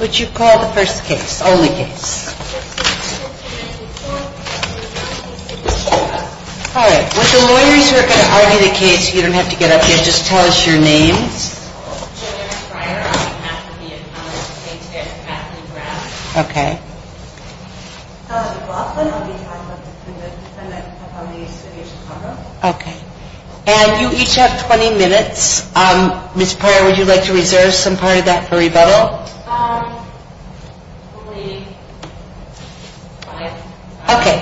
Would you call the first case, the only case. Alright, with the lawyers who are going to argue the case, you don't have to get up yet, just tell us your names. Okay. Okay. And you each have 20 minutes. Ms. Pryor, would you like to reserve some part of that for rebuttal? Okay.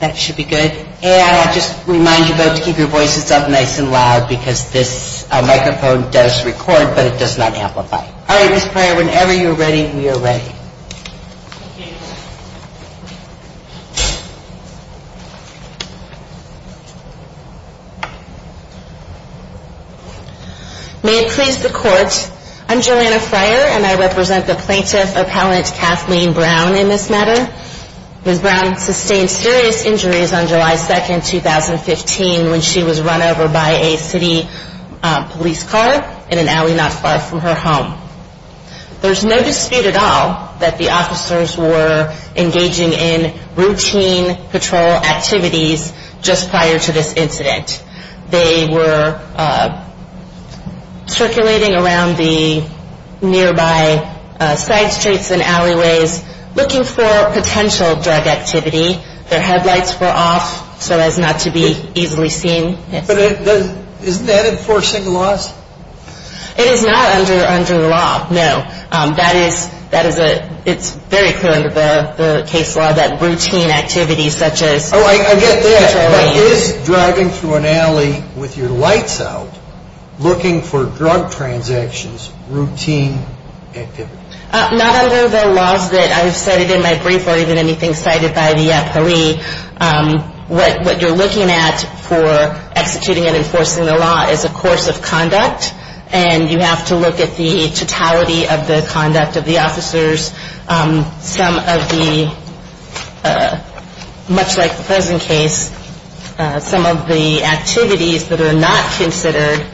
That should be good. And I'll just remind you both to keep your voices up nice and loud because this microphone does record but it does not amplify. Alright, Ms. Pryor, whenever you're ready, we are ready. May it please the court, I'm Joanna Pryor and I represent the plaintiff appellant Kathleen Brown in this matter. Ms. Brown sustained serious injuries on July 2, 2015 when she was run over by a city police car in an alley not far from her home. There's no dispute at all that the officers were engaging in routine patrol activities just prior to this incident. They were circulating around the nearby side streets and alleyways looking for potential drug activity. Their headlights were off so as not to be easily seen. But isn't that enforcing the laws? It is not under the law, no. That is, that is a, it's very clear under the case law that routine activities such as... Oh, I get that, but is driving through an alley with your lights out looking for drug transactions routine activity? Not under the laws that I've cited in my brief or even anything cited by the appellee. What you're looking at for executing and enforcing the law is a course of conduct and you have to look at the totality of the conduct of the officers. Some of the, much like the present case, some of the activities that are not considered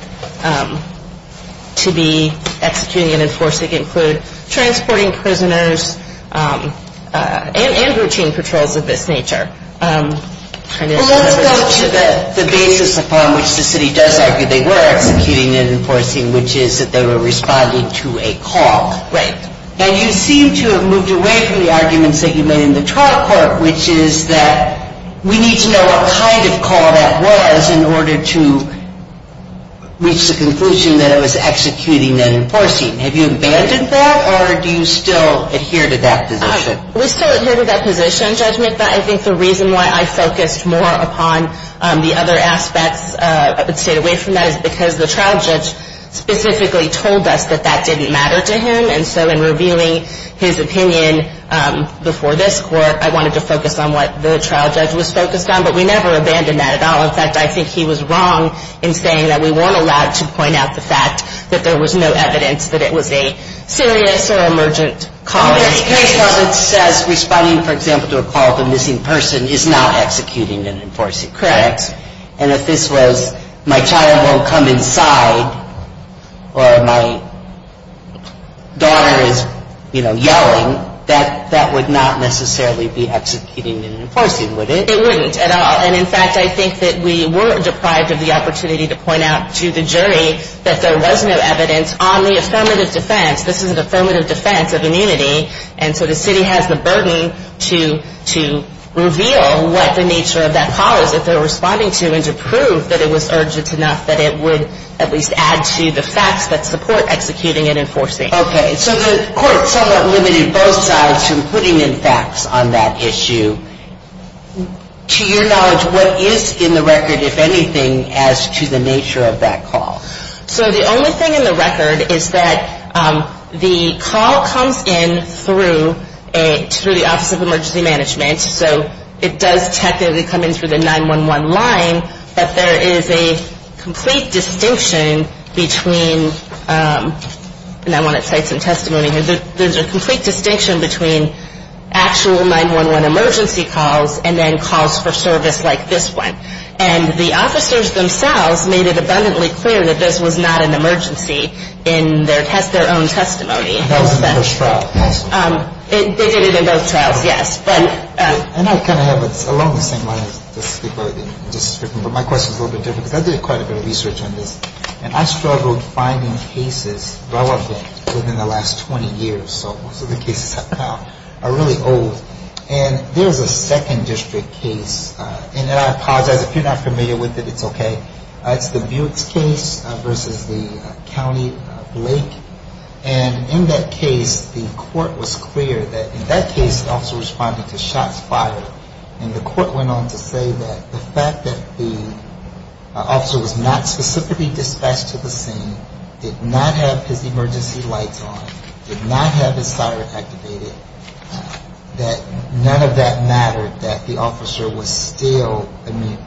to be executing and enforcing include transporting prisoners and routine patrols of this nature. Well, let's go to the basis upon which the city does argue they were executing and enforcing, which is that they were responding to a call. Right. And you seem to have moved away from the arguments that you made in the trial court, which is that we need to know what kind of call that was in order to reach the conclusion that it was executing and enforcing. Have you abandoned that or do you still adhere to that position? We still adhere to that position, Judge McBeth. I think the reason why I focused more upon the other aspects of it, stayed away from that, is because the trial judge specifically told us that that didn't matter to him. And so in revealing his opinion before this court, I wanted to focus on what the trial judge was focused on. But we never abandoned that at all. In fact, I think he was wrong in saying that we weren't allowed to point out the fact that there was no evidence that it was a serious or emergent call. In this case, it says responding, for example, to a call of a missing person is not executing and enforcing. Correct. And if this was my child won't come inside or my daughter is, you know, yelling, that would not necessarily be executing and enforcing, would it? It wouldn't at all. And in fact, I think that we were deprived of the opportunity to point out to the jury that there was no evidence on the affirmative defense. This is an affirmative defense of immunity. And so the city has the burden to reveal what the nature of that call is. If they're responding to and to prove that it was urgent enough, that it would at least add to the facts that support executing and enforcing. Okay. So the court somewhat limited both sides from putting in facts on that issue. To your knowledge, what is in the record, if anything, as to the nature of that call? So the only thing in the record is that the call comes in through the Office of Emergency Management. So it does technically come in through the 911 line. But there is a complete distinction between, and I want to cite some testimony here, there's a complete distinction between actual 911 emergency calls and then calls for service like this one. And the officers themselves made it abundantly clear that this was not an emergency in their own testimony. That was in the first trial. They did it in both trials, yes. And I kind of have along the same lines. My question is a little bit different because I did quite a bit of research on this. And I struggled finding cases relevant within the last 20 years. So most of the cases I found are really old. And there's a second district case. And I apologize if you're not familiar with it, it's okay. It's the Buicks case versus the County Blake. And in that case, the court was clear that in that case the officer was responding to shots fired. And the court went on to say that the fact that the officer was not specifically dispatched to the scene, did not have his emergency lights on, did not have his siren activated, that none of that mattered, that the officer was still immune.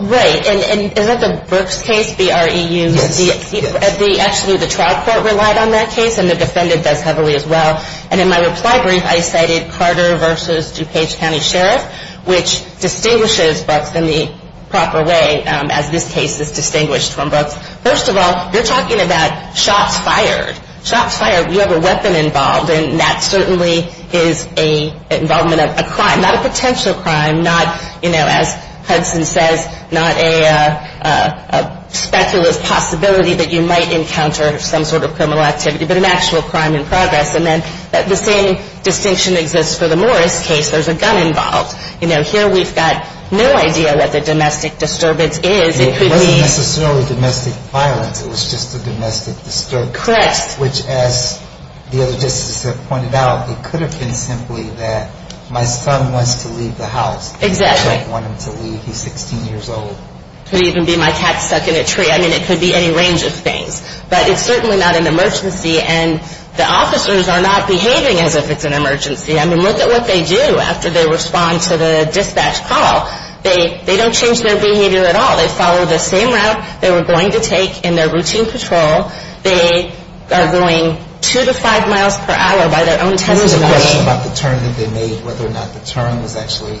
Right. And is that the Buicks case, B-R-E-U? Yes. Actually, the trial court relied on that case and the defendant does heavily as well. And in my reply brief I cited Carter versus DuPage County Sheriff, which distinguishes Buicks in the proper way as this case is distinguished from Buicks. First of all, you're talking about shots fired. Shots fired, you have a weapon involved. And that certainly is an involvement of a crime. Not a potential crime, not, you know, as Hudson says, not a speculative possibility that you might encounter some sort of criminal activity, but an actual crime in progress. And then the same distinction exists for the Morris case. There's a gun involved. You know, here we've got no idea what the domestic disturbance is. It wasn't necessarily domestic violence. It was just a domestic disturbance. Correct. Which, as the other justices have pointed out, it could have been simply that my son wants to leave the house. Exactly. I don't want him to leave. He's 16 years old. It could even be my cat's stuck in a tree. I mean, it could be any range of things. But it's certainly not an emergency. And the officers are not behaving as if it's an emergency. I mean, look at what they do after they respond to the dispatch call. They don't change their behavior at all. They follow the same route they were going to take in their routine patrol. They are going two to five miles per hour by their own testimony. There was a question about the turn that they made, whether or not the turn was actually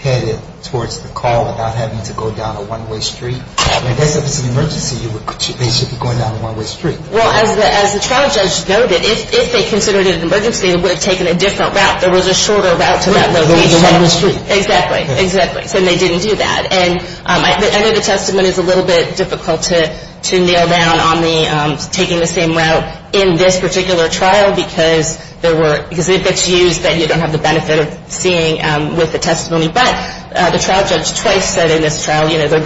headed towards the call without having to go down a one-way street. I mean, if it's an emergency, they should be going down a one-way street. Well, as the trial judge noted, if they considered it an emergency, they would have taken a different route. There was a shorter route to that location. A one-way street. Exactly. Exactly. So they didn't do that. And I know the testimony is a little bit difficult to nail down on the taking the same route in this particular trial because it gets used that you don't have the benefit of seeing with the testimony. But the trial judge twice said in this trial, you know, they're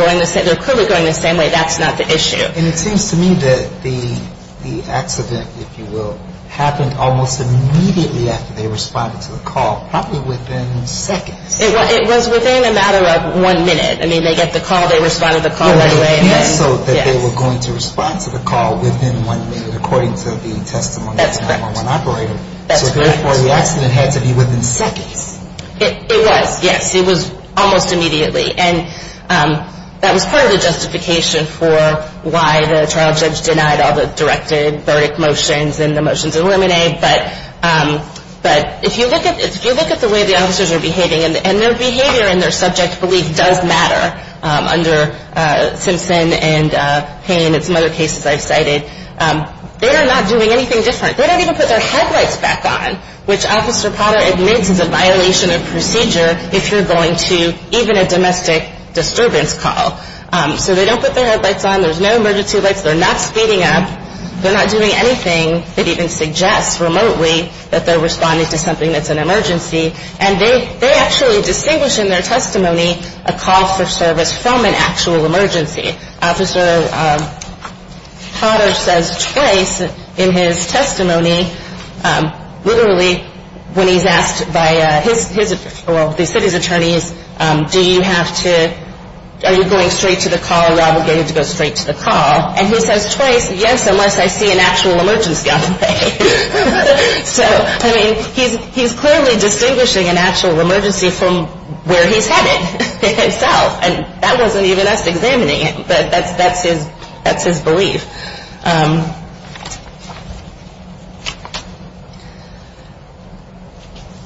clearly going the same way. That's not the issue. And it seems to me that the accident, if you will, happened almost immediately after they responded to the call, probably within seconds. It was within a matter of one minute. I mean, they get the call. They responded to the call right away. So they were going to respond to the call within one minute, according to the testimony of one operator. That's correct. So therefore, the accident had to be within seconds. It was, yes. It was almost immediately. And that was part of the justification for why the trial judge denied all the directed verdict motions and the motions eliminated. But if you look at the way the officers are behaving, and their behavior and their subject belief does matter, under Simpson and Payne and some other cases I've cited, they are not doing anything different. They don't even put their headlights back on, which Officer Potter admits is a violation of procedure if you're going to even a domestic disturbance call. So they don't put their headlights on. There's no emergency lights. They're not speeding up. They're not doing anything that even suggests remotely that they're responding to something that's an emergency. And they actually distinguish in their testimony a call for service from an actual emergency. Officer Potter says twice in his testimony, literally, when he's asked by his, well, the city's attorneys, do you have to, are you going straight to the call? Are you obligated to go straight to the call? And he says twice, yes, unless I see an actual emergency on the way. So, I mean, he's clearly distinguishing an actual emergency from where he's headed himself. And that wasn't even us examining it, but that's his belief.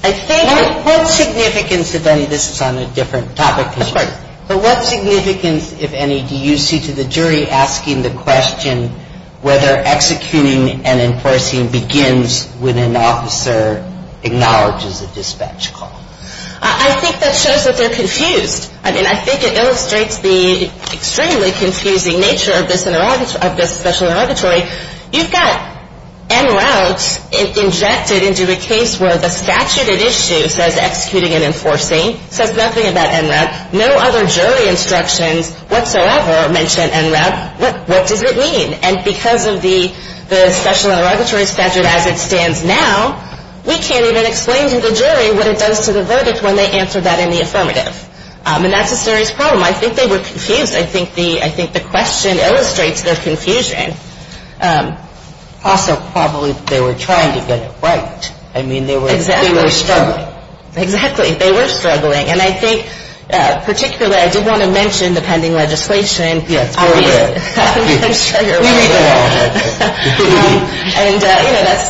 I think what significance, if any, this is on a different topic. But what significance, if any, do you see to the jury asking the question whether executing and enforcing begins when an officer acknowledges a dispatch call? I think that shows that they're confused. I mean, I think it illustrates the extremely confusing nature of this special interrogatory. You've got en route injected into a case where the statute at issue says executing and enforcing. It says nothing about en route. No other jury instructions whatsoever mention en route. What does it mean? And because of the special interrogatory statute as it stands now, we can't even explain to the jury what it does to the verdict when they answer that in the affirmative. And that's a serious problem. I think they were confused. I think the question illustrates their confusion. Also, probably they were trying to get it right. I mean, they were struggling. Exactly. They were struggling. And I think particularly I did want to mention the pending legislation. Yes, we did. I'm sure you're aware of that. And, you know, that's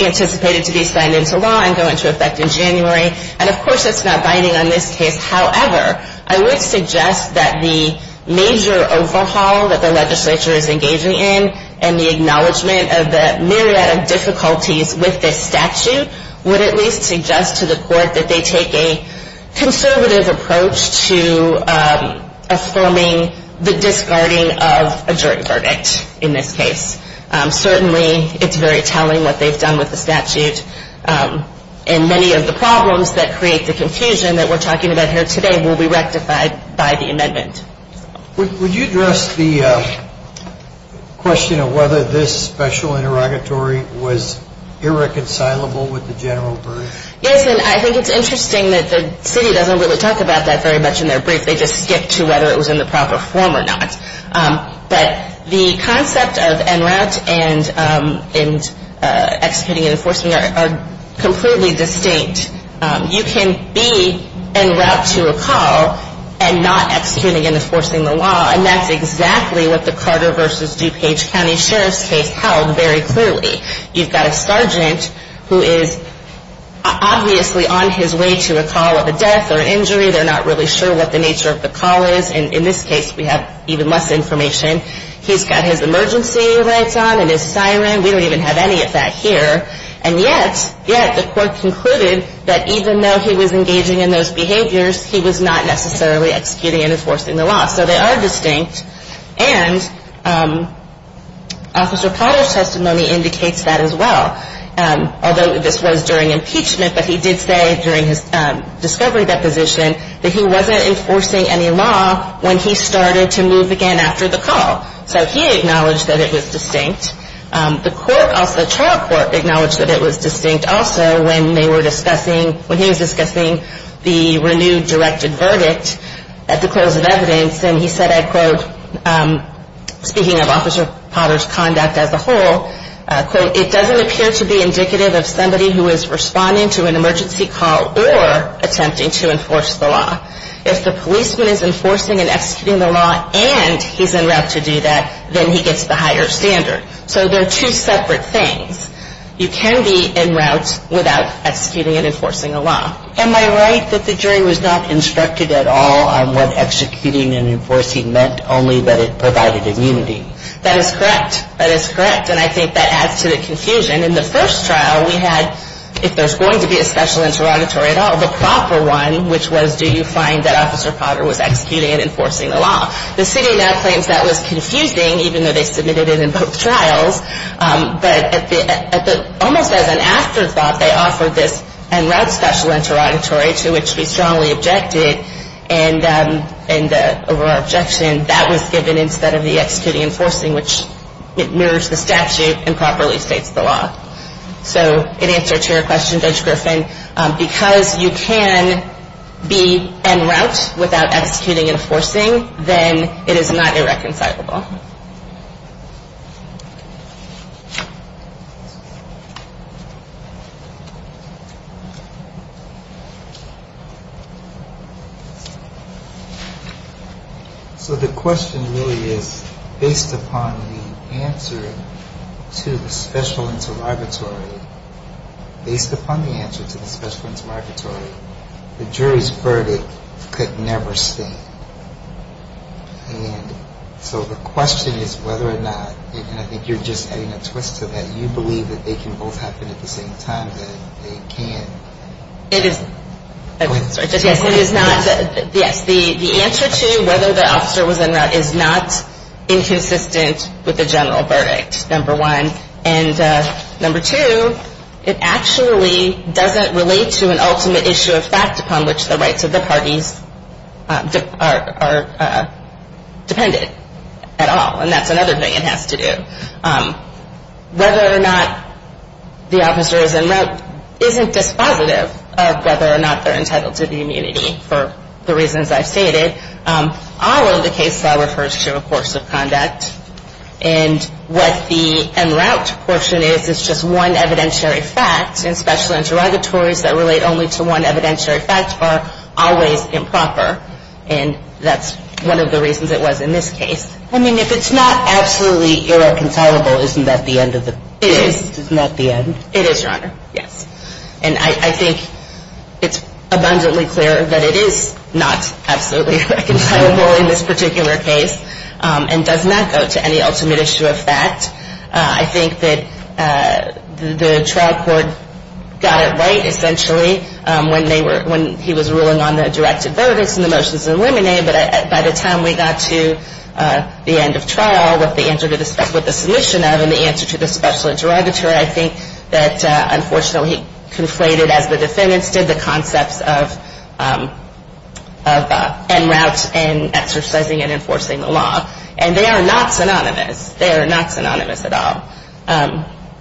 anticipated to be signed into law and go into effect in January. And, of course, that's not binding on this case. However, I would suggest that the major overhaul that the legislature is engaging in and the acknowledgment of the myriad of difficulties with this statute would at least suggest to the court that they take a conservative approach to affirming the discarding of a jury verdict in this case. Certainly it's very telling what they've done with the statute. And many of the problems that create the confusion that we're talking about here today will be rectified by the amendment. Would you address the question of whether this special interrogatory was irreconcilable with the general verdict? Yes, and I think it's interesting that the city doesn't really talk about that very much in their brief. They just skip to whether it was in the proper form or not. But the concept of en route and executing and enforcing are completely distinct. You can be en route to a call and not executing and enforcing the law, and that's exactly what the Carter v. DuPage County Sheriff's case held very clearly. You've got a sergeant who is obviously on his way to a call of a death or injury. They're not really sure what the nature of the call is. And in this case, we have even less information. He's got his emergency lights on and his siren. We don't even have any of that here. And yet, yet the court concluded that even though he was engaging in those behaviors, he was not necessarily executing and enforcing the law. So they are distinct. And Officer Potter's testimony indicates that as well. Although this was during impeachment, but he did say during his discovery deposition that he wasn't enforcing any law when he started to move again after the call. So he acknowledged that it was distinct. The trial court acknowledged that it was distinct also when they were discussing, when he was discussing the renewed directed verdict at the close of evidence. And he said, I quote, speaking of Officer Potter's conduct as a whole, quote, it doesn't appear to be indicative of somebody who is responding to an emergency call or attempting to enforce the law. If the policeman is enforcing and executing the law and he's en route to do that, then he gets the higher standard. So they're two separate things. You can be en route without executing and enforcing a law. Am I right that the jury was not instructed at all on what executing and enforcing meant, only that it provided immunity? That is correct. That is correct. And I think that adds to the confusion. In the first trial, we had, if there's going to be a special interrogatory at all, the proper one, which was do you find that Officer Potter was executing and enforcing the law. The city now claims that was confusing, even though they submitted it in both trials. But almost as an afterthought, they offered this en route special interrogatory, to which we strongly objected. And our objection, that was given instead of the executing and enforcing, which mirrors the statute and properly states the law. So in answer to your question, Judge Griffin, because you can be en route without executing and enforcing, then it is not irreconcilable. So the question really is, based upon the answer to the special interrogatory, based upon the answer to the special interrogatory, the jury's verdict could never stand. And so the question is whether or not, and I think you're just adding a twist to that, you believe that they can both happen at the same time, that they can. It is, yes, the answer to whether the officer was en route is not inconsistent with the general verdict, number one. And number two, it actually doesn't relate to an ultimate issue of fact upon which the rights of the parties are dependent at all. And that's another thing it has to do. Whether or not the officer is en route isn't dispositive of whether or not they're entitled to the immunity, for the reasons I've stated. All of the case law refers to a course of conduct. And what the en route portion is, is just one evidentiary fact. And special interrogatories that relate only to one evidentiary fact are always improper. And that's one of the reasons it was in this case. I mean, if it's not absolutely irreconcilable, isn't that the end of the case? It is, Your Honor, yes. And I think it's abundantly clear that it is not absolutely irreconcilable in this particular case, and does not go to any ultimate issue of fact. I think that the trial court got it right, essentially, when he was ruling on the directed verdicts and the motions of limine, but by the time we got to the end of trial, what the submission of, and the answer to the special interrogatory, I think that, unfortunately, he conflated, as the defendants did, the concepts of en route and exercising and enforcing the law. And they are not synonymous. They are not synonymous at all.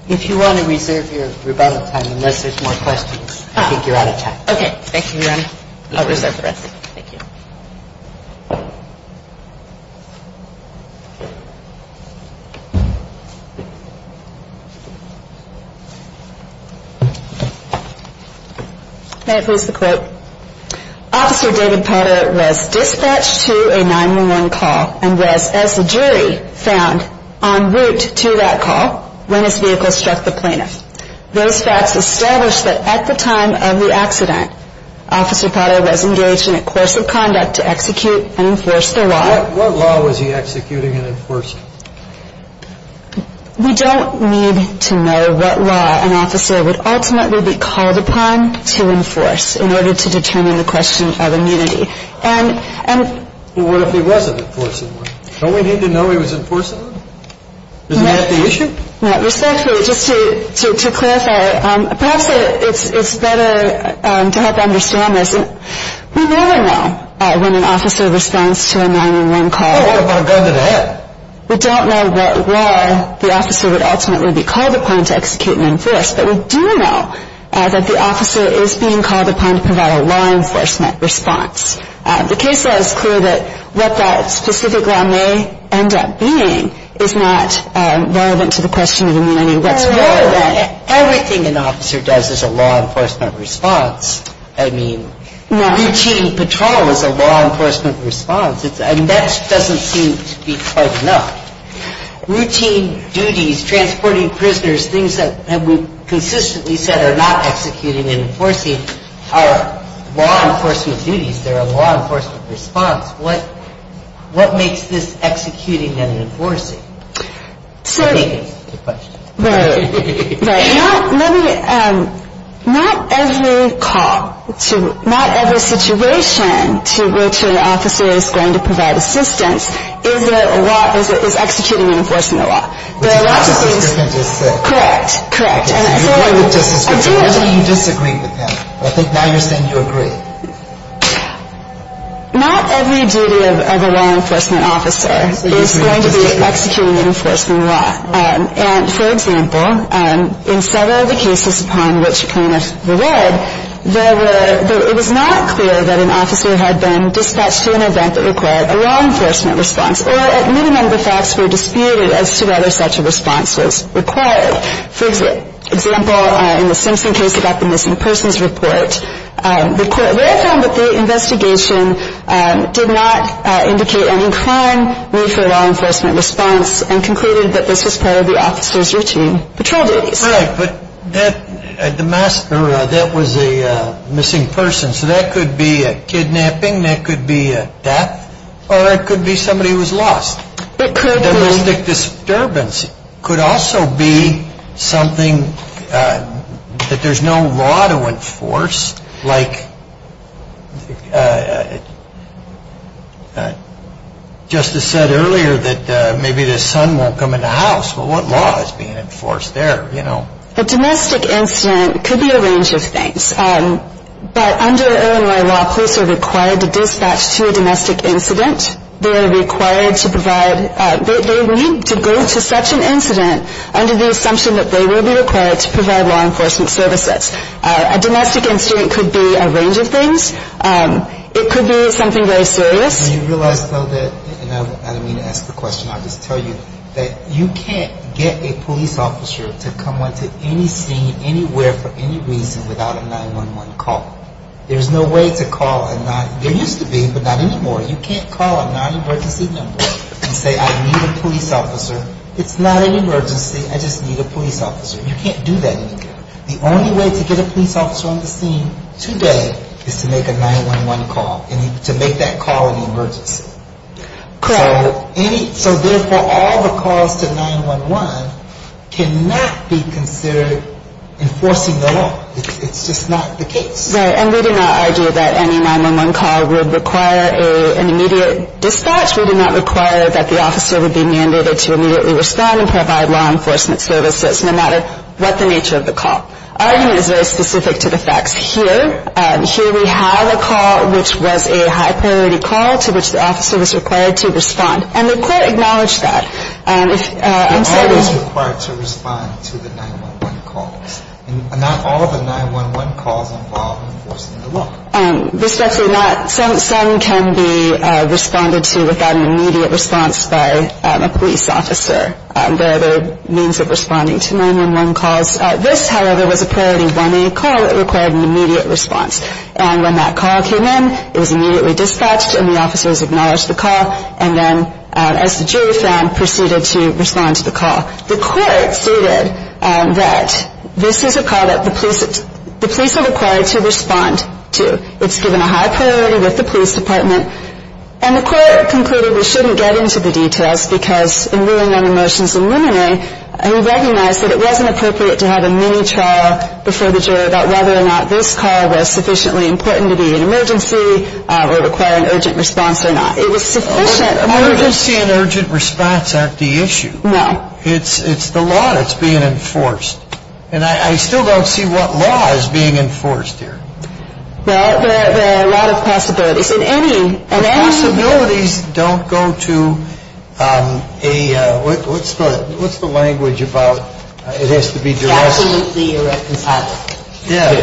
If you want to reserve your rebuttal time, unless there's more questions, I think you're out of time. Thank you, Your Honor. I'll reserve the rest. Thank you. May I please have the quote? Officer David Potter was dispatched to a 911 call and was, as the jury found, en route to that call when his vehicle struck the plaintiff. Those facts established that at the time of the accident, Officer Potter was engaged in a course of conduct to execute and enforce the law. What law was he executing and enforcing? We don't need to know what law an officer would ultimately be called upon to enforce in order to determine the question of immunity. What if he wasn't enforcing the law? Don't we need to know he was enforcing the law? Isn't that the issue? Respectfully, just to clarify, perhaps it's better to help understand this. We never know when an officer responds to a 911 call. We don't know what law the officer would ultimately be called upon to execute and enforce, but we do know that the officer is being called upon to provide a law enforcement response. The case is clear that what that specific law may end up being is not relevant to the question of immunity. Everything an officer does is a law enforcement response. I mean, reaching patrol is a law enforcement response. I mean, that doesn't seem to be quite enough. Routine duties, transporting prisoners, things that have been consistently said are not executing and enforcing are law enforcement duties. They're a law enforcement response. What makes this executing and enforcing? I think that's the question. Not every call, not every situation to which an officer is going to provide assistance is executing and enforcing the law. Correct, correct. Why do you disagree with him? I think now you're saying you agree. Not every duty of a law enforcement officer is going to be executing and enforcing the law. And, for example, in several of the cases upon which plaintiffs were led, it was not clear that an officer had been dispatched to an event that required a law enforcement response, or at minimum the facts were disputed as to whether such a response was required. For example, in the Simpson case about the missing persons report, the court found that the investigation did not indicate an inclined need for a law enforcement response and concluded that this was part of the officer's routine patrol duties. Right, but that was a missing person. So that could be a kidnapping, that could be a death, or it could be somebody who was lost. Domestic disturbance could also be something that there's no law to enforce. Like Justice said earlier that maybe the sun won't come into the house, but what law is being enforced there? A domestic incident could be a range of things. But under Illinois law, police are required to dispatch to a domestic incident. They are required to provide, they need to go to such an incident under the assumption that they will be required to provide law enforcement services. A domestic incident could be a range of things. It could be something very serious. Do you realize though that, and I don't mean to ask the question, I'll just tell you, that you can't get a police officer to come onto any scene anywhere for any reason without a 911 call. There's no way to call a non, there used to be, but not anymore. You can't call a non-emergency number and say I need a police officer. It's not an emergency, I just need a police officer. You can't do that anymore. The only way to get a police officer on the scene today is to make a 911 call and to make that call an emergency. So therefore, all the calls to 911 cannot be considered enforcing the law. It's just not the case. Right. And we do not argue that any 911 call would require an immediate dispatch. We do not require that the officer would be mandated to immediately respond and provide law enforcement services no matter what the nature of the call. Our unit is very specific to the facts here. Here we have a call which was a high-priority call to which the officer was required to respond, and the court acknowledged that. The call is required to respond to the 911 calls. Not all of the 911 calls involve enforcing the law. Respectfully not. Some can be responded to without an immediate response by a police officer. There are other means of responding to 911 calls. This, however, was a priority 1A call that required an immediate response. And when that call came in, it was immediately dispatched and the officers acknowledged the call and then, as the jury found, proceeded to respond to the call. The court stated that this is a call that the police are required to respond to. It's given a high priority with the police department. And the court concluded we shouldn't get into the details because in ruling on the motions in 1A, we recognize that it wasn't appropriate to have a mini-trial before the jury about whether or not this call was sufficiently important to be an emergency or require an urgent response or not. It was sufficient emergency. Emergency and urgent response aren't the issue. No. It's the law that's being enforced. And I still don't see what law is being enforced here. Well, there are a lot of possibilities. Possibilities don't go to a, what's the language about it has to be direct? Absolutely irreconcilable. Yeah.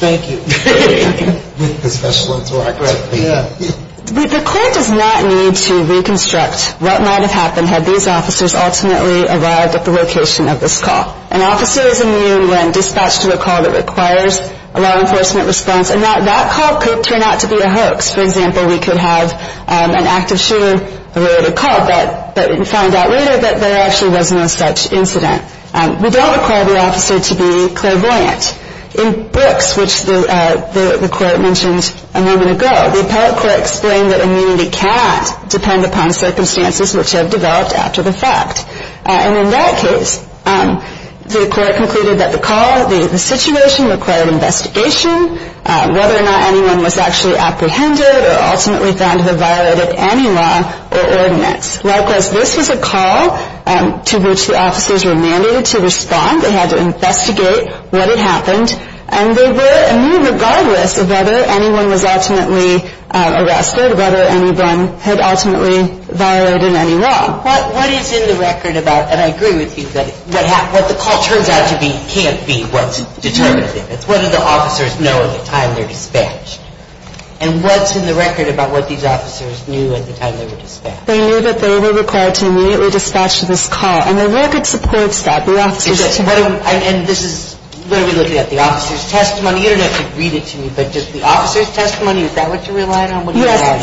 Thank you. With special interactions. Yeah. The court does not need to reconstruct what might have happened had these officers ultimately arrived at the location of this call. An officer is immune when dispatched to a call that requires a law enforcement response, and that call could turn out to be a hoax. For example, we could have an active shooter who wrote a call but find out later that there actually was no such incident. We don't require the officer to be clairvoyant. In Brooks, which the court mentioned a moment ago, the appellate court explained that immunity cannot depend upon circumstances which have developed after the fact. And in that case, the court concluded that the call, the situation required investigation, whether or not anyone was actually apprehended or ultimately found to have violated any law or ordinance. Likewise, this was a call to which the officers were mandated to respond. They had to investigate what had happened, and they were immune regardless of whether anyone was ultimately arrested, whether anyone had ultimately violated any law. But what is in the record about, and I agree with you, that what the call turns out to be can't be what's determinative. It's whether the officers know at the time they're dispatched. And what's in the record about what these officers knew at the time they were dispatched? They knew that they were required to immediately dispatch this call. And the record supports that. The officers knew. And this is, what are we looking at, the officer's testimony? You don't have to read it to me, but just the officer's testimony, is that what you're relying on? Yes,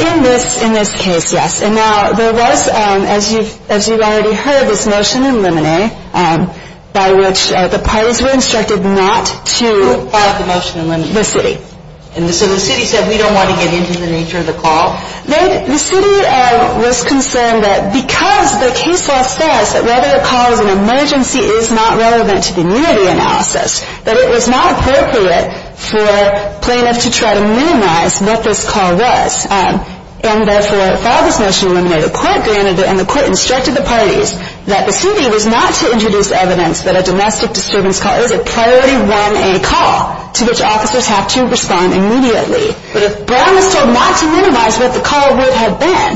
in this case, yes. And now there was, as you've already heard, this motion in Limine by which the parties were instructed not to apply the motion in Limine to the city. And so the city said, we don't want to get into the nature of the call? The city was concerned that because the case law says that whether the call is an emergency is not relevant to the immunity analysis, that it was not appropriate for plaintiffs to try to minimize what this call was. And therefore, if I have this motion in Limine, the court granted it and the court instructed the parties that the city was not to introduce evidence that a domestic disturbance call is a priority 1A call to which officers have to respond immediately. But it promised not to minimize what the call would have been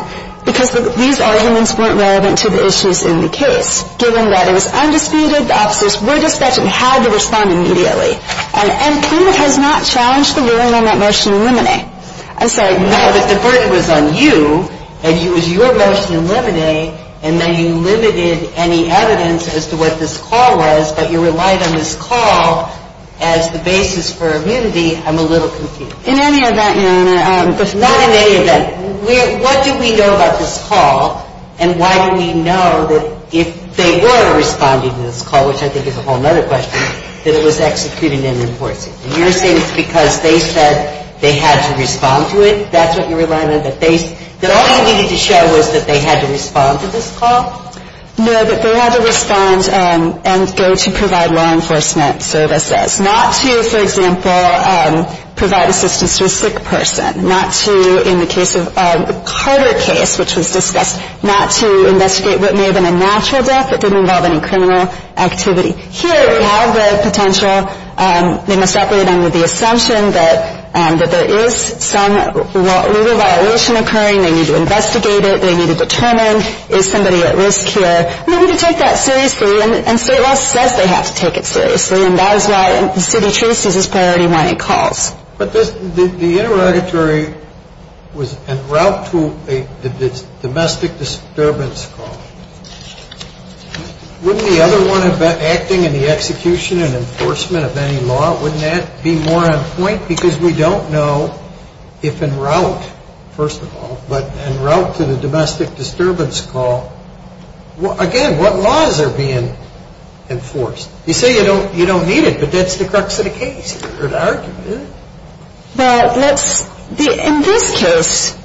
because these arguments weren't relevant to the issues in the case. And so the motion in Limine was given that it was undisputed, the officers were dispatched and had to respond immediately. And the court has not challenged the ruling on that motion in Limine. I'm sorry. No, but the burden was on you, and it was your motion in Limine, and then you limited any evidence as to what this call was, but you relied on this call as the basis for immunity. I'm a little confused. In any event, Your Honor. Not in any event. What do we know about this call, and why do we know that if they were responding to this call, which I think is a whole other question, that it was executed and enforced? You're saying it's because they said they had to respond to it? That's what you relied on? That all you needed to show was that they had to respond to this call? No, that they had to respond and go to provide law enforcement services. Not to, for example, provide assistance to a sick person. Not to, in the case of the Carter case, which was discussed, not to investigate what may have been a natural death that didn't involve any criminal activity. Here we have the potential. They must operate under the assumption that there is some legal violation occurring. They need to investigate it. They need to determine is somebody at risk here. They need to take that seriously, and state law says they have to take it seriously, and that is why city truce is a priority when it calls. But the interrogatory was en route to the domestic disturbance call. Wouldn't the other one acting in the execution and enforcement of any law, wouldn't that be more on point? Because we don't know if en route, first of all, but en route to the domestic disturbance call, again, what laws are being enforced? You say you don't need it, but that's the crux of the case. In this case,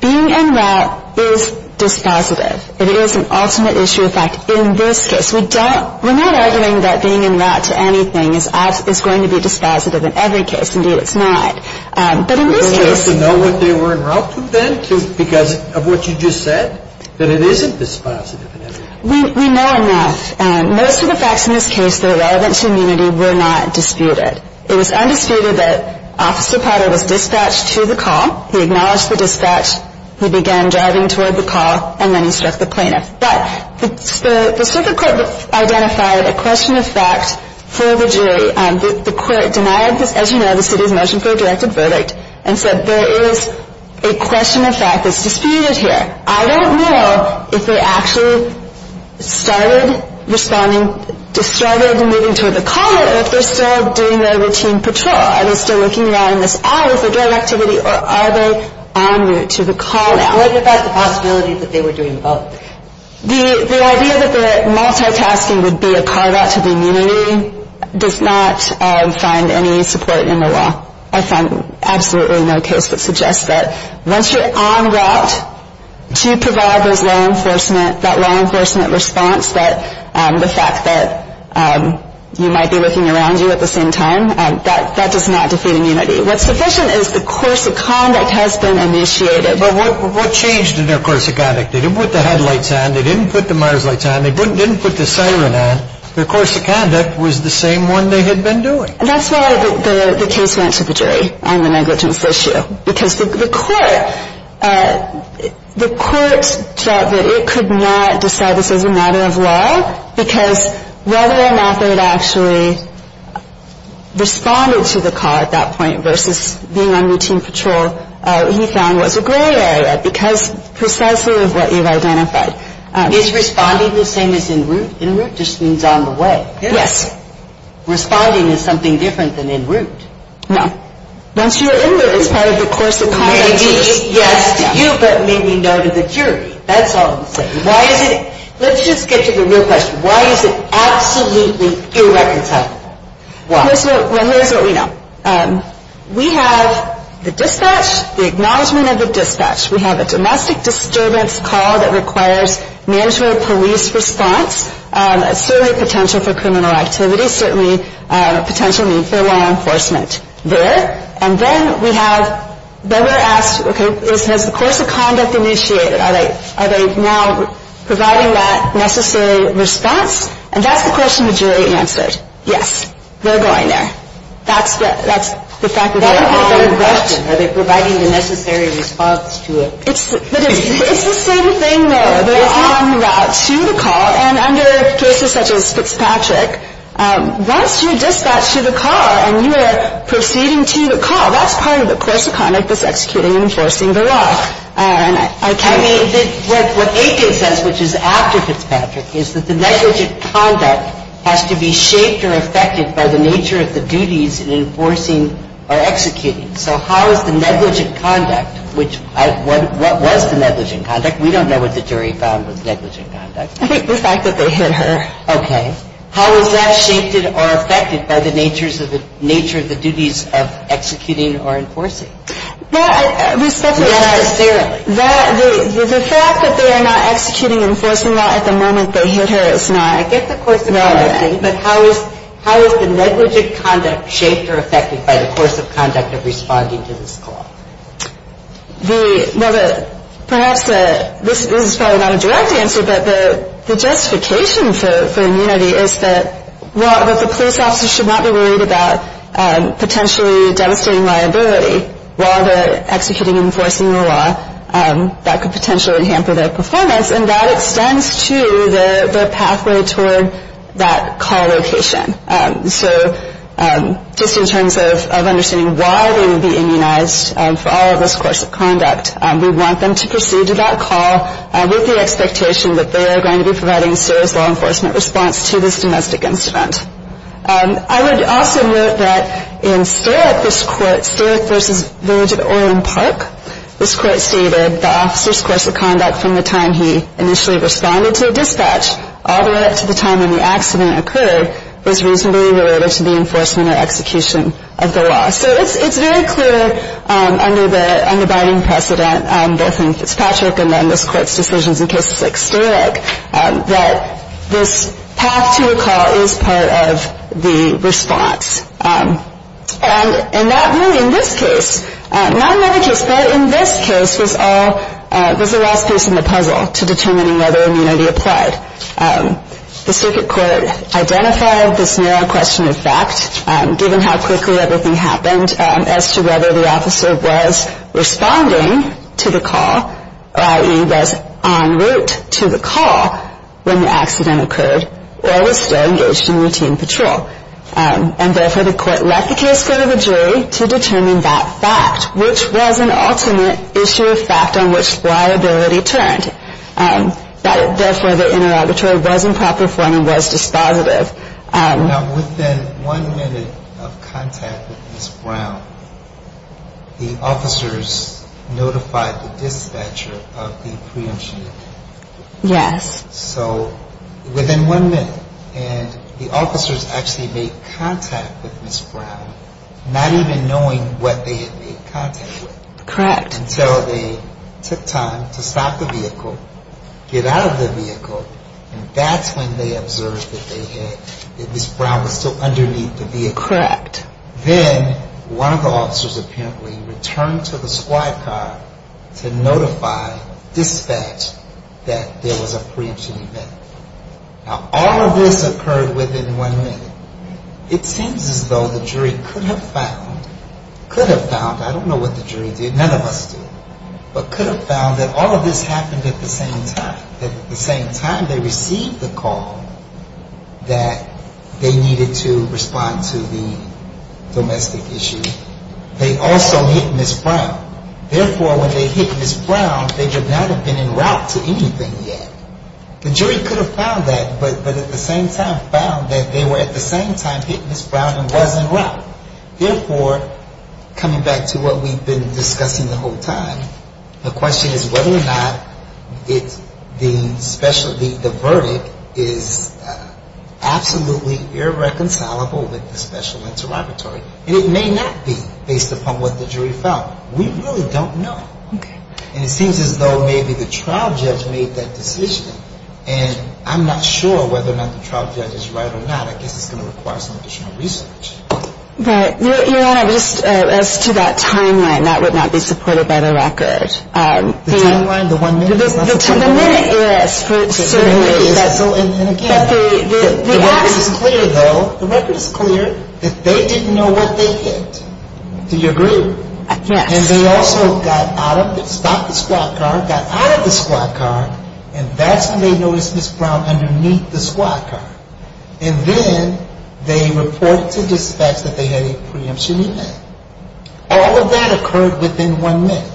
being en route is dispositive. It is an ultimate issue of fact in this case. We're not arguing that being en route to anything is going to be dispositive in every case. Indeed, it's not. But in this case we know what they were en route to then because of what you just said, that it isn't dispositive in every case. We know enough. Most of the facts in this case that are relevant to immunity were not disputed. It was undisputed that Officer Potter was dispatched to the call. He acknowledged the dispatch. He began driving toward the call, and then he struck the plaintiff. But the circuit court identified a question of fact for the jury. The court denied, as you know, the city's motion for a directed verdict and said there is a question of fact that's disputed here. I don't know if they actually started responding, just started moving toward the call or if they're still doing their routine patrol. Are they still looking around this aisle for drug activity, or are they en route to the call now? What about the possibility that they were doing both? The idea that the multitasking would be a carve-out to the immunity does not find any support in the law. I find absolutely no case that suggests that once you're en route to provide those law enforcement, that law enforcement response, the fact that you might be looking around you at the same time, that does not defeat immunity. What's sufficient is the course of conduct has been initiated. But what changed in their course of conduct? They didn't put the headlights on. They didn't put the mires lights on. They didn't put the siren on. Their course of conduct was the same one they had been doing. And that's why the case went to the jury on the negligence issue, because the court felt that it could not decide this as a matter of law, because whether or not they had actually responded to the call at that point versus being on routine patrol, he found was a gray area because precisely of what you've identified. Is responding the same as en route? En route just means on the way. Yes. Responding is something different than en route. No. Once you're en route, it's part of the course of conduct. Maybe yes to you, but maybe no to the jury. That's all I'm saying. Why is it? Let's just get to the real question. Why is it absolutely irreconcilable? Well, here's what we know. We have the dispatch, the acknowledgement of the dispatch. We have a domestic disturbance call that requires management of police response, certainly potential for criminal activity, certainly potential need for law enforcement there. And then we have they were asked, okay, has the course of conduct initiated? Are they now providing that necessary response? And that's the question the jury answered. Yes, they're going there. That's the fact of it. That's a different question. Are they providing the necessary response to it? It's the same thing there. They're en route to the call. And under cases such as Fitzpatrick, once you're dispatched to the call and you are proceeding to the call, that's part of the course of conduct that's executing and enforcing the law. And I can't ---- I mean, what Aiken says, which is after Fitzpatrick, is that the negligent conduct has to be shaped or affected by the nature of the duties in enforcing or executing. So how is the negligent conduct, which what was the negligent conduct? We don't know what the jury found was negligent conduct. I think the fact that they hit her. Okay. How is that shaped or affected by the nature of the duties of executing or enforcing? Respectfully, necessarily. The fact that they are not executing enforcing law at the moment they hit her is not. I get the course of conduct. But how is the negligent conduct shaped or affected by the course of conduct of responding to this call? Well, perhaps this is probably not a direct answer, but the justification for immunity is that the police officer should not be worried about potentially devastating liability while they're executing and enforcing the law. That could potentially hamper their performance. And that extends to the pathway toward that call location. So just in terms of understanding why they would be immunized for all of this course of conduct, we want them to proceed to that call with the expectation that they are going to be providing serious law enforcement response to this domestic incident. I would also note that in Starrick, this court, Starrick v. Village of Orland Park, this court stated the officer's course of conduct from the time he initially responded to a dispatch all the way up to the time when the accident occurred was reasonably related to the enforcement or execution of the law. So it's very clear under the binding precedent, both in Fitzpatrick and then this court's decisions in cases like Starrick, that this path to a call is part of the response. And that really, in this case, not another case, but in this case, this is all, this is the last piece in the puzzle to determining whether immunity applied. The circuit court identified this narrow question of fact, given how quickly everything happened, as to whether the officer was responding to the call, i.e., was en route to the call when the accident occurred, or was still engaged in routine patrol. And therefore, the court let the case go to the jury to determine that fact, which was an ultimate issue of fact on which liability turned. Therefore, the interrogatory was in proper form and was dispositive. Now, within one minute of contact with Ms. Brown, the officers notified the dispatcher of the preemption. Yes. So within one minute. And the officers actually made contact with Ms. Brown, not even knowing what they had made contact with. Correct. Until they took time to stop the vehicle, get out of the vehicle, and that's when they observed that they had, that Ms. Brown was still underneath the vehicle. Correct. Then one of the officers apparently returned to the squad car to notify dispatch that there was a preemption event. Now, all of this occurred within one minute. It seems as though the jury could have found, could have found, I don't know what the jury did, none of us did, but could have found that all of this happened at the same time. At the same time they received the call that they needed to respond to the domestic issue. They also hit Ms. Brown. Therefore, when they hit Ms. Brown, they did not have been in route to anything yet. The jury could have found that, but at the same time found that they were at the same time hitting Ms. Brown and was in route. Therefore, coming back to what we've been discussing the whole time, the question is whether or not it's the special, the verdict is absolutely irreconcilable with the special interrogatory. And it may not be based upon what the jury found. We really don't know. Okay. And it seems as though maybe the trial judge made that decision. And I'm not sure whether or not the trial judge is right or not. I guess it's going to require some additional research. Your Honor, just as to that timeline, that would not be supported by the record. The timeline, the one minute is not supported. The minute is. Certainly is. And again, the record is clear though, the record is clear that they didn't know what they hit. Do you agree? Yes. And they also got out of, stopped the squat car, got out of the squat car, and that's when they noticed Ms. Brown underneath the squat car. And then they reported to dispatch that they had a preemption event. All of that occurred within one minute.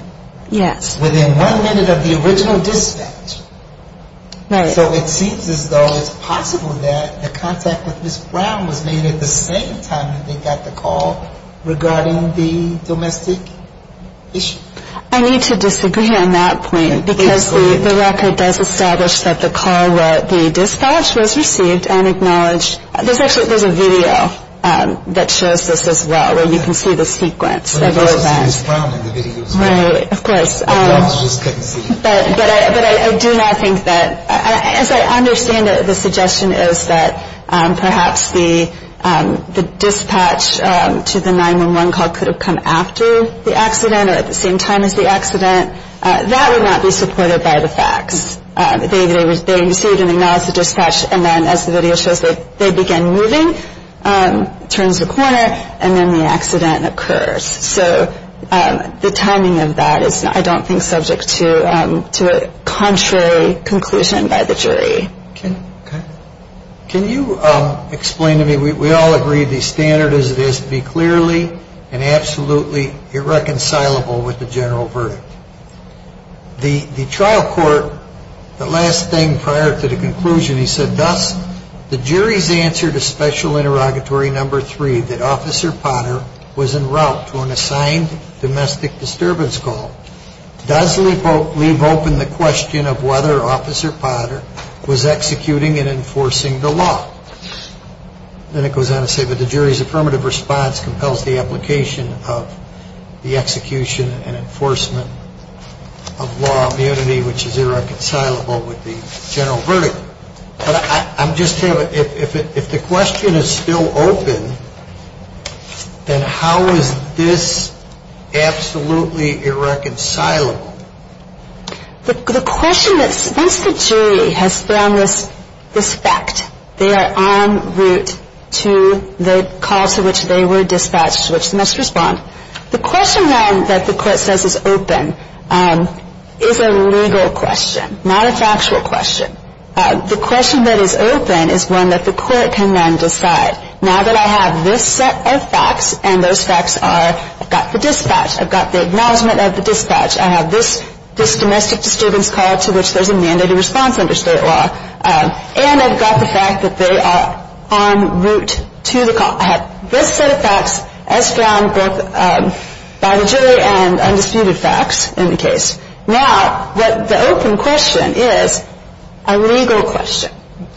Yes. Within one minute of the original dispatch. Right. So it seems as though it's possible that the contact with Ms. Brown was made at the same time that they got the call regarding the domestic issue. I need to disagree on that point because the record does establish that the call where the dispatch was received and acknowledged. There's actually, there's a video that shows this as well where you can see the sequence of events. Right, of course. But I do not think that, as I understand it, the suggestion is that perhaps the dispatch to the 911 call could have come after the accident or at the same time as the accident. That would not be supported by the facts. They received and acknowledged the dispatch, and then as the video shows, they began moving, turns the corner, and then the accident occurs. So the timing of that is, I don't think, subject to a contrary conclusion by the jury. Can you explain to me, we all agree the standard is it has to be clearly and absolutely irreconcilable with the general verdict. The trial court, the last thing prior to the conclusion, he said, Thus, the jury's answer to special interrogatory number three, that Officer Potter was en route to an assigned domestic disturbance call, does leave open the question of whether Officer Potter was executing and enforcing the law. Then it goes on to say that the jury's affirmative response compels the application of the execution and enforcement of law immunity, which is irreconcilable with the general verdict. But I'm just curious, if the question is still open, then how is this absolutely irreconcilable? The question is, once the jury has found this fact, they are en route to the call to which they were dispatched to which they must respond. The question that the court says is open is a legal question, not a factual question. The question that is open is one that the court can then decide. Now that I have this set of facts, and those facts are, I've got the dispatch, I've got the acknowledgement of the dispatch, I have this domestic disturbance call to which there's a mandated response under state law, and I've got the fact that they are en route to the call. I have this set of facts as found both by the jury and undisputed facts in the case. Now, the open question is a legal question.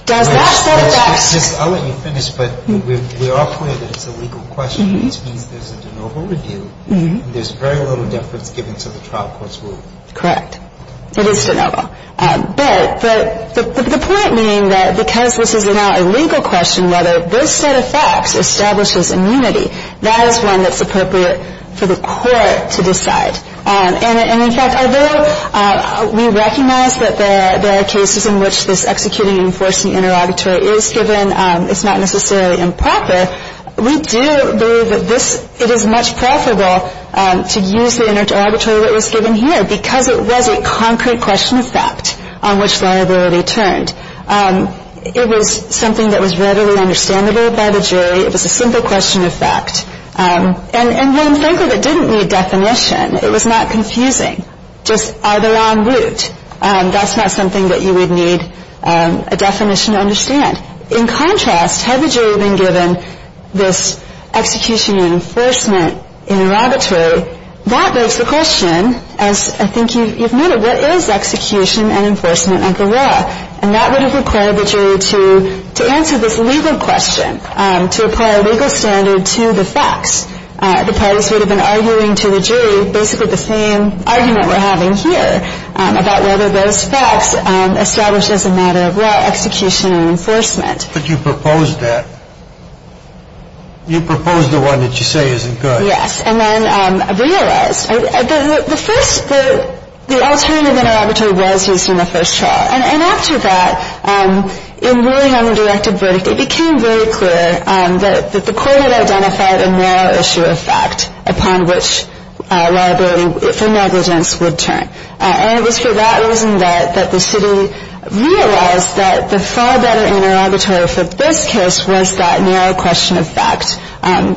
Does that set of facts – I'll let you finish, but we're aware that it's a legal question, which means there's a de novo review, and there's very little deference given to the trial court's ruling. Correct. It is de novo. But the point being that because this is now a legal question, whether this set of facts establishes immunity, that is one that's appropriate for the court to decide. And, in fact, although we recognize that there are cases in which this executing and enforcing interrogatory is given, it's not necessarily improper. We do believe that it is much preferable to use the interrogatory that was given here because it was a concrete question of fact on which liability turned. It was something that was readily understandable by the jury. It was a simple question of fact. And, frankly, it didn't need definition. It was not confusing. Just are they en route? That's not something that you would need a definition to understand. In contrast, had the jury been given this execution and enforcement interrogatory, that begs the question, as I think you've noted, what is execution and enforcement under law? And that would have required the jury to answer this legal question, to apply a legal standard to the facts. The parties would have been arguing to the jury basically the same argument we're having here about whether those facts establish as a matter of law execution and enforcement. But you proposed that. You proposed the one that you say isn't good. Yes. And then I realized, the first, the alternative interrogatory was used in the first trial. And after that, in William's directive verdict, it became very clear that the court had identified a moral issue of fact upon which liability for negligence would turn. And it was for that reason that the city realized that the far better interrogatory for this case was that narrow question of fact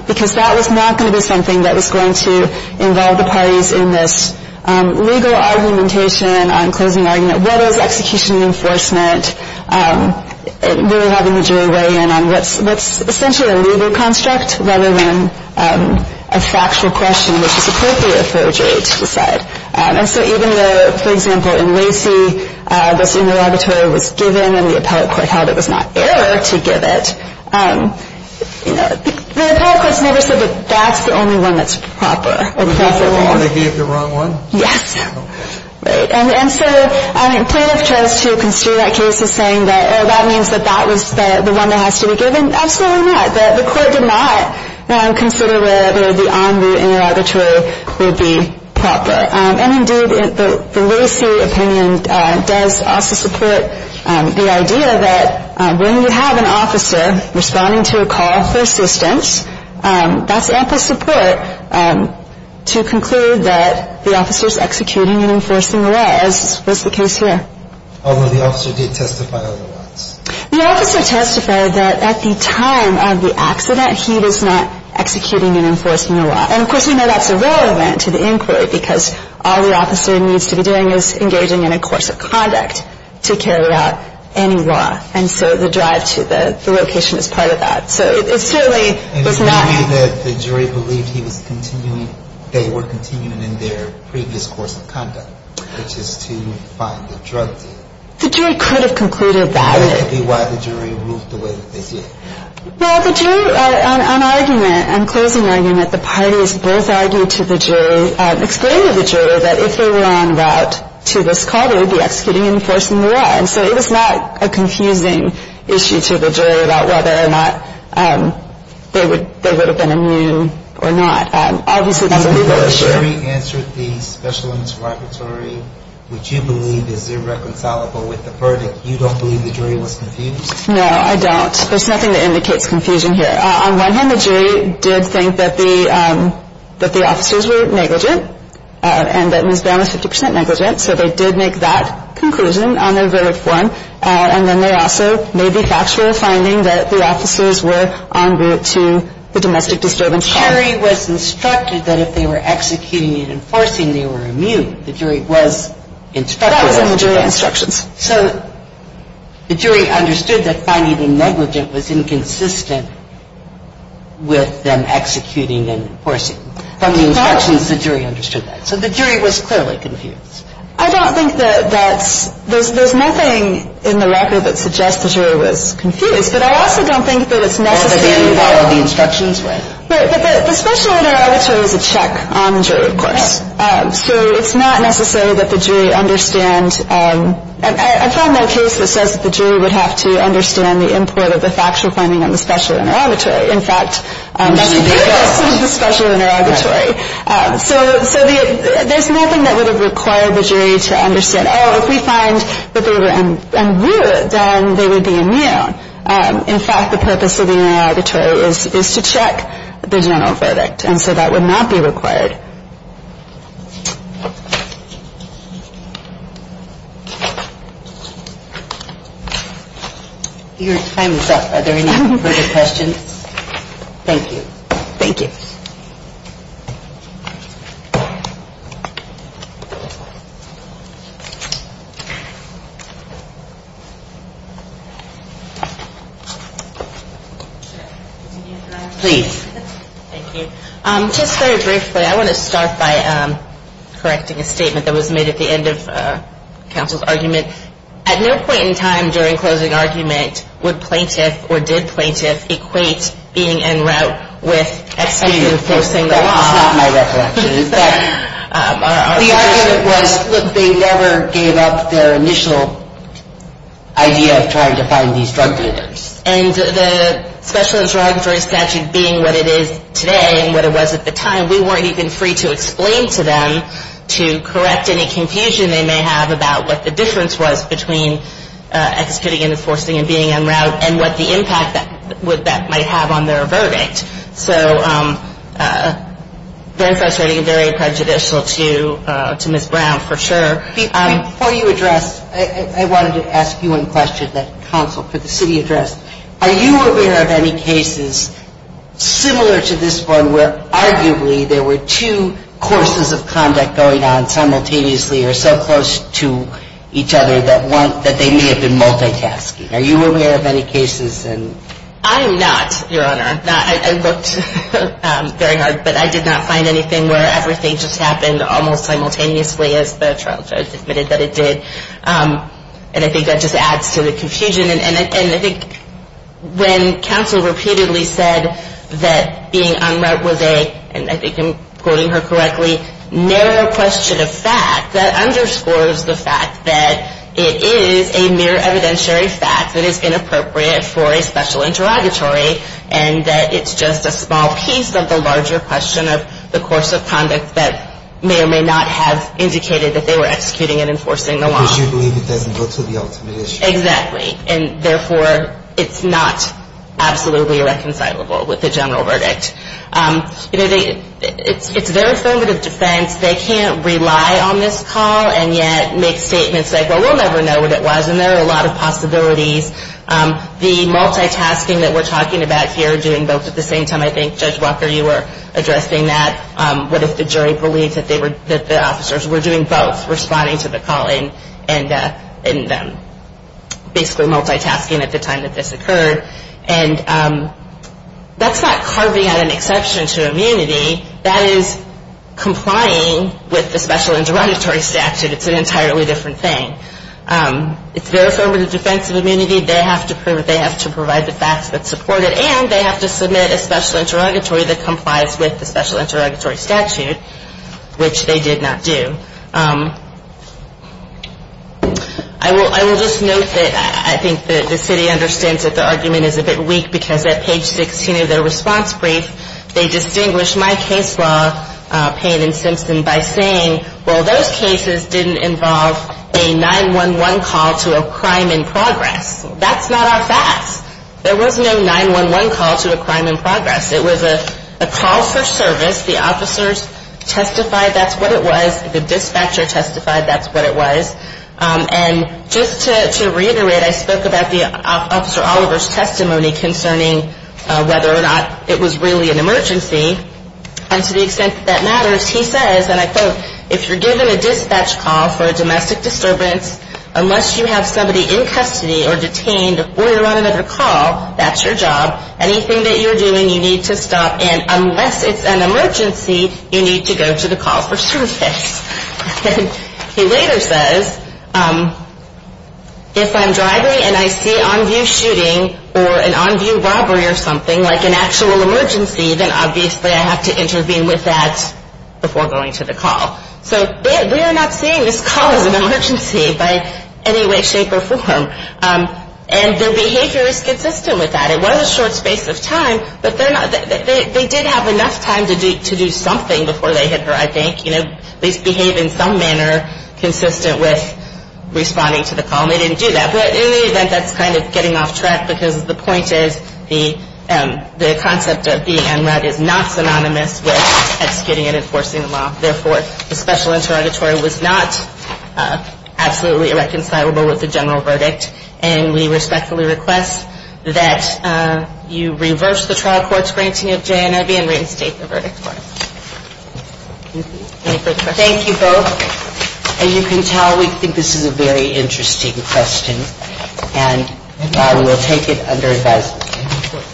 because that was not going to be something that was going to involve the parties in this legal argumentation on closing argument, what is execution and enforcement, really having the jury weigh in on what's essentially a legal construct rather than a factual question which is appropriate for a jury to decide. And so even though, for example, in Lacey, this interrogatory was given and then the appellate court held it was not air to give it, the appellate court has never said that that's the only one that's proper or appropriate. They gave the wrong one? Yes. Okay. Right. And so plaintiff tries to construe that case as saying that that means that that was the one that has to be given. Absolutely not. The court did not consider whether the en route interrogatory would be proper. And, indeed, the Lacey opinion does also support the idea that when you have an officer responding to a call for assistance, that's ample support to conclude that the officer is executing and enforcing the law, as was the case here. Although the officer did testify otherwise. The officer testified that at the time of the accident, he was not executing and enforcing the law. And, of course, we know that's irrelevant to the inquiry, because all the officer needs to be doing is engaging in a course of conduct to carry out any law. And so the drive to the location is part of that. So it certainly was not. And the jury believed he was continuing, they were continuing in their previous course of conduct, which is to find the drug dealer. The jury could have concluded that. That could be why the jury ruled the way that they did. Well, the jury, on argument, on closing argument, the parties both argued to the jury, explained to the jury that if they were en route to this call, they would be executing and enforcing the law. And so it was not a confusing issue to the jury about whether or not they would have been immune or not. Obviously, that's a legal issue. So the jury answered the special limits interrogatory, which you believe is irreconcilable with the verdict. You don't believe the jury was confused? No, I don't. There's nothing that indicates confusion here. On one hand, the jury did think that the officers were negligent and that Ms. Brown was 50 percent negligent. So they did make that conclusion on their verdict one. And then there also may be factual finding that the officers were en route to the domestic disturbance call. The jury was instructed that if they were executing and enforcing, they were immune. The jury was instructed. That was in the jury instructions. So the jury understood that finding a negligent was inconsistent with them executing and enforcing. From the instructions, the jury understood that. So the jury was clearly confused. I don't think that that's – there's nothing in the record that suggests the jury was confused. But I also don't think that it's necessary. Or that they didn't follow the instructions well. But the special interrogatory was a check on the jury, of course. So it's not necessary that the jury understand – I found no case that says the jury would have to understand the import of the factual finding on the special interrogatory. In fact, that's the purpose of the special interrogatory. So there's nothing that would have required the jury to understand, oh, if we find that they were en route, then they would be immune. In fact, the purpose of the interrogatory is to check the general verdict. And so that would not be required. Your time is up. Are there any further questions? Thank you. Thank you. Please. Thank you. Just very briefly, I want to start by correcting a statement that was made at the end of counsel's argument. At no point in time during closing argument would plaintiff or did plaintiff equate being en route with – Excuse me. That's not my recollection. The argument was they never gave up their initial idea of trying to find these drug dealers. And the special interrogatory statute being what it is today and what it was at the time, we weren't even free to explain to them to correct any confusion they may have about what the difference was between executing and enforcing and being en route and what the impact that might have on their verdict. So very frustrating and very prejudicial to Ms. Brown for sure. Before you address, I wanted to ask you one question that counsel for the city addressed. Are you aware of any cases similar to this one where arguably there were two courses of conduct going on simultaneously or so close to each other that they may have been multitasking? Are you aware of any cases? I'm not, Your Honor. I looked very hard, but I did not find anything where everything just happened almost simultaneously as the trial judge admitted that it did. And I think that just adds to the confusion. And I think when counsel repeatedly said that being en route was a, and I think I'm quoting her correctly, narrow question of fact, that underscores the fact that it is a mere evidentiary fact that it's inappropriate for a special interrogatory and that it's just a small piece of the larger question of the course of conduct that may or may not have indicated that they were executing and enforcing the law. Because you believe it doesn't go to the ultimate issue. Exactly. And therefore, it's not absolutely reconcilable with the general verdict. It's their affirmative defense. They can't rely on this call and yet make statements like, well, we'll never know what it was. And there are a lot of possibilities. The multitasking that we're talking about here, doing both at the same time, I think, Judge Walker, you were addressing that. What if the jury believes that the officers were doing both, responding to the call and basically multitasking at the time that this occurred. And that's not carving out an exception to immunity. That is complying with the special interrogatory statute. It's an entirely different thing. It's their affirmative defense of immunity. They have to provide the facts that support it. And they have to submit a special interrogatory that complies with the special interrogatory statute, which they did not do. I will just note that I think the city understands that the argument is a bit weak because at page 16 of their response brief, they distinguished my case law, Payne and Simpson, by saying, well, those cases didn't involve a 911 call to a crime in progress. That's not our facts. There was no 911 call to a crime in progress. It was a call for service. The officers testified that's what it was. The dispatcher testified that's what it was. And just to reiterate, I spoke about the Officer Oliver's testimony concerning whether or not it was really an emergency. And to the extent that that matters, he says, and I quote, if you're given a dispatch call for a domestic disturbance, unless you have somebody in custody or detained before you're on another call, that's your job. Anything that you're doing, you need to stop. And unless it's an emergency, you need to go to the call for service. He later says, if I'm driving and I see on view shooting or an on view robbery or something, like an actual emergency, then obviously I have to intervene with that before going to the call. So we are not seeing this call as an emergency by any way, shape or form. And their behavior is consistent with that. It was a short space of time, but they did have enough time to do something before they hit her, I think. You know, at least behave in some manner consistent with responding to the call. And they didn't do that. In the event that's kind of getting off track, because the point is the concept of being en route is not synonymous with executing and enforcing the law. Therefore, the special interrogatory was not absolutely irreconcilable with the general verdict. And we respectfully request that you reverse the trial court's granting of JNRB and reinstate the verdict court. Thank you both. As you can tell, we think this is a very interesting question and we'll take it under advisement.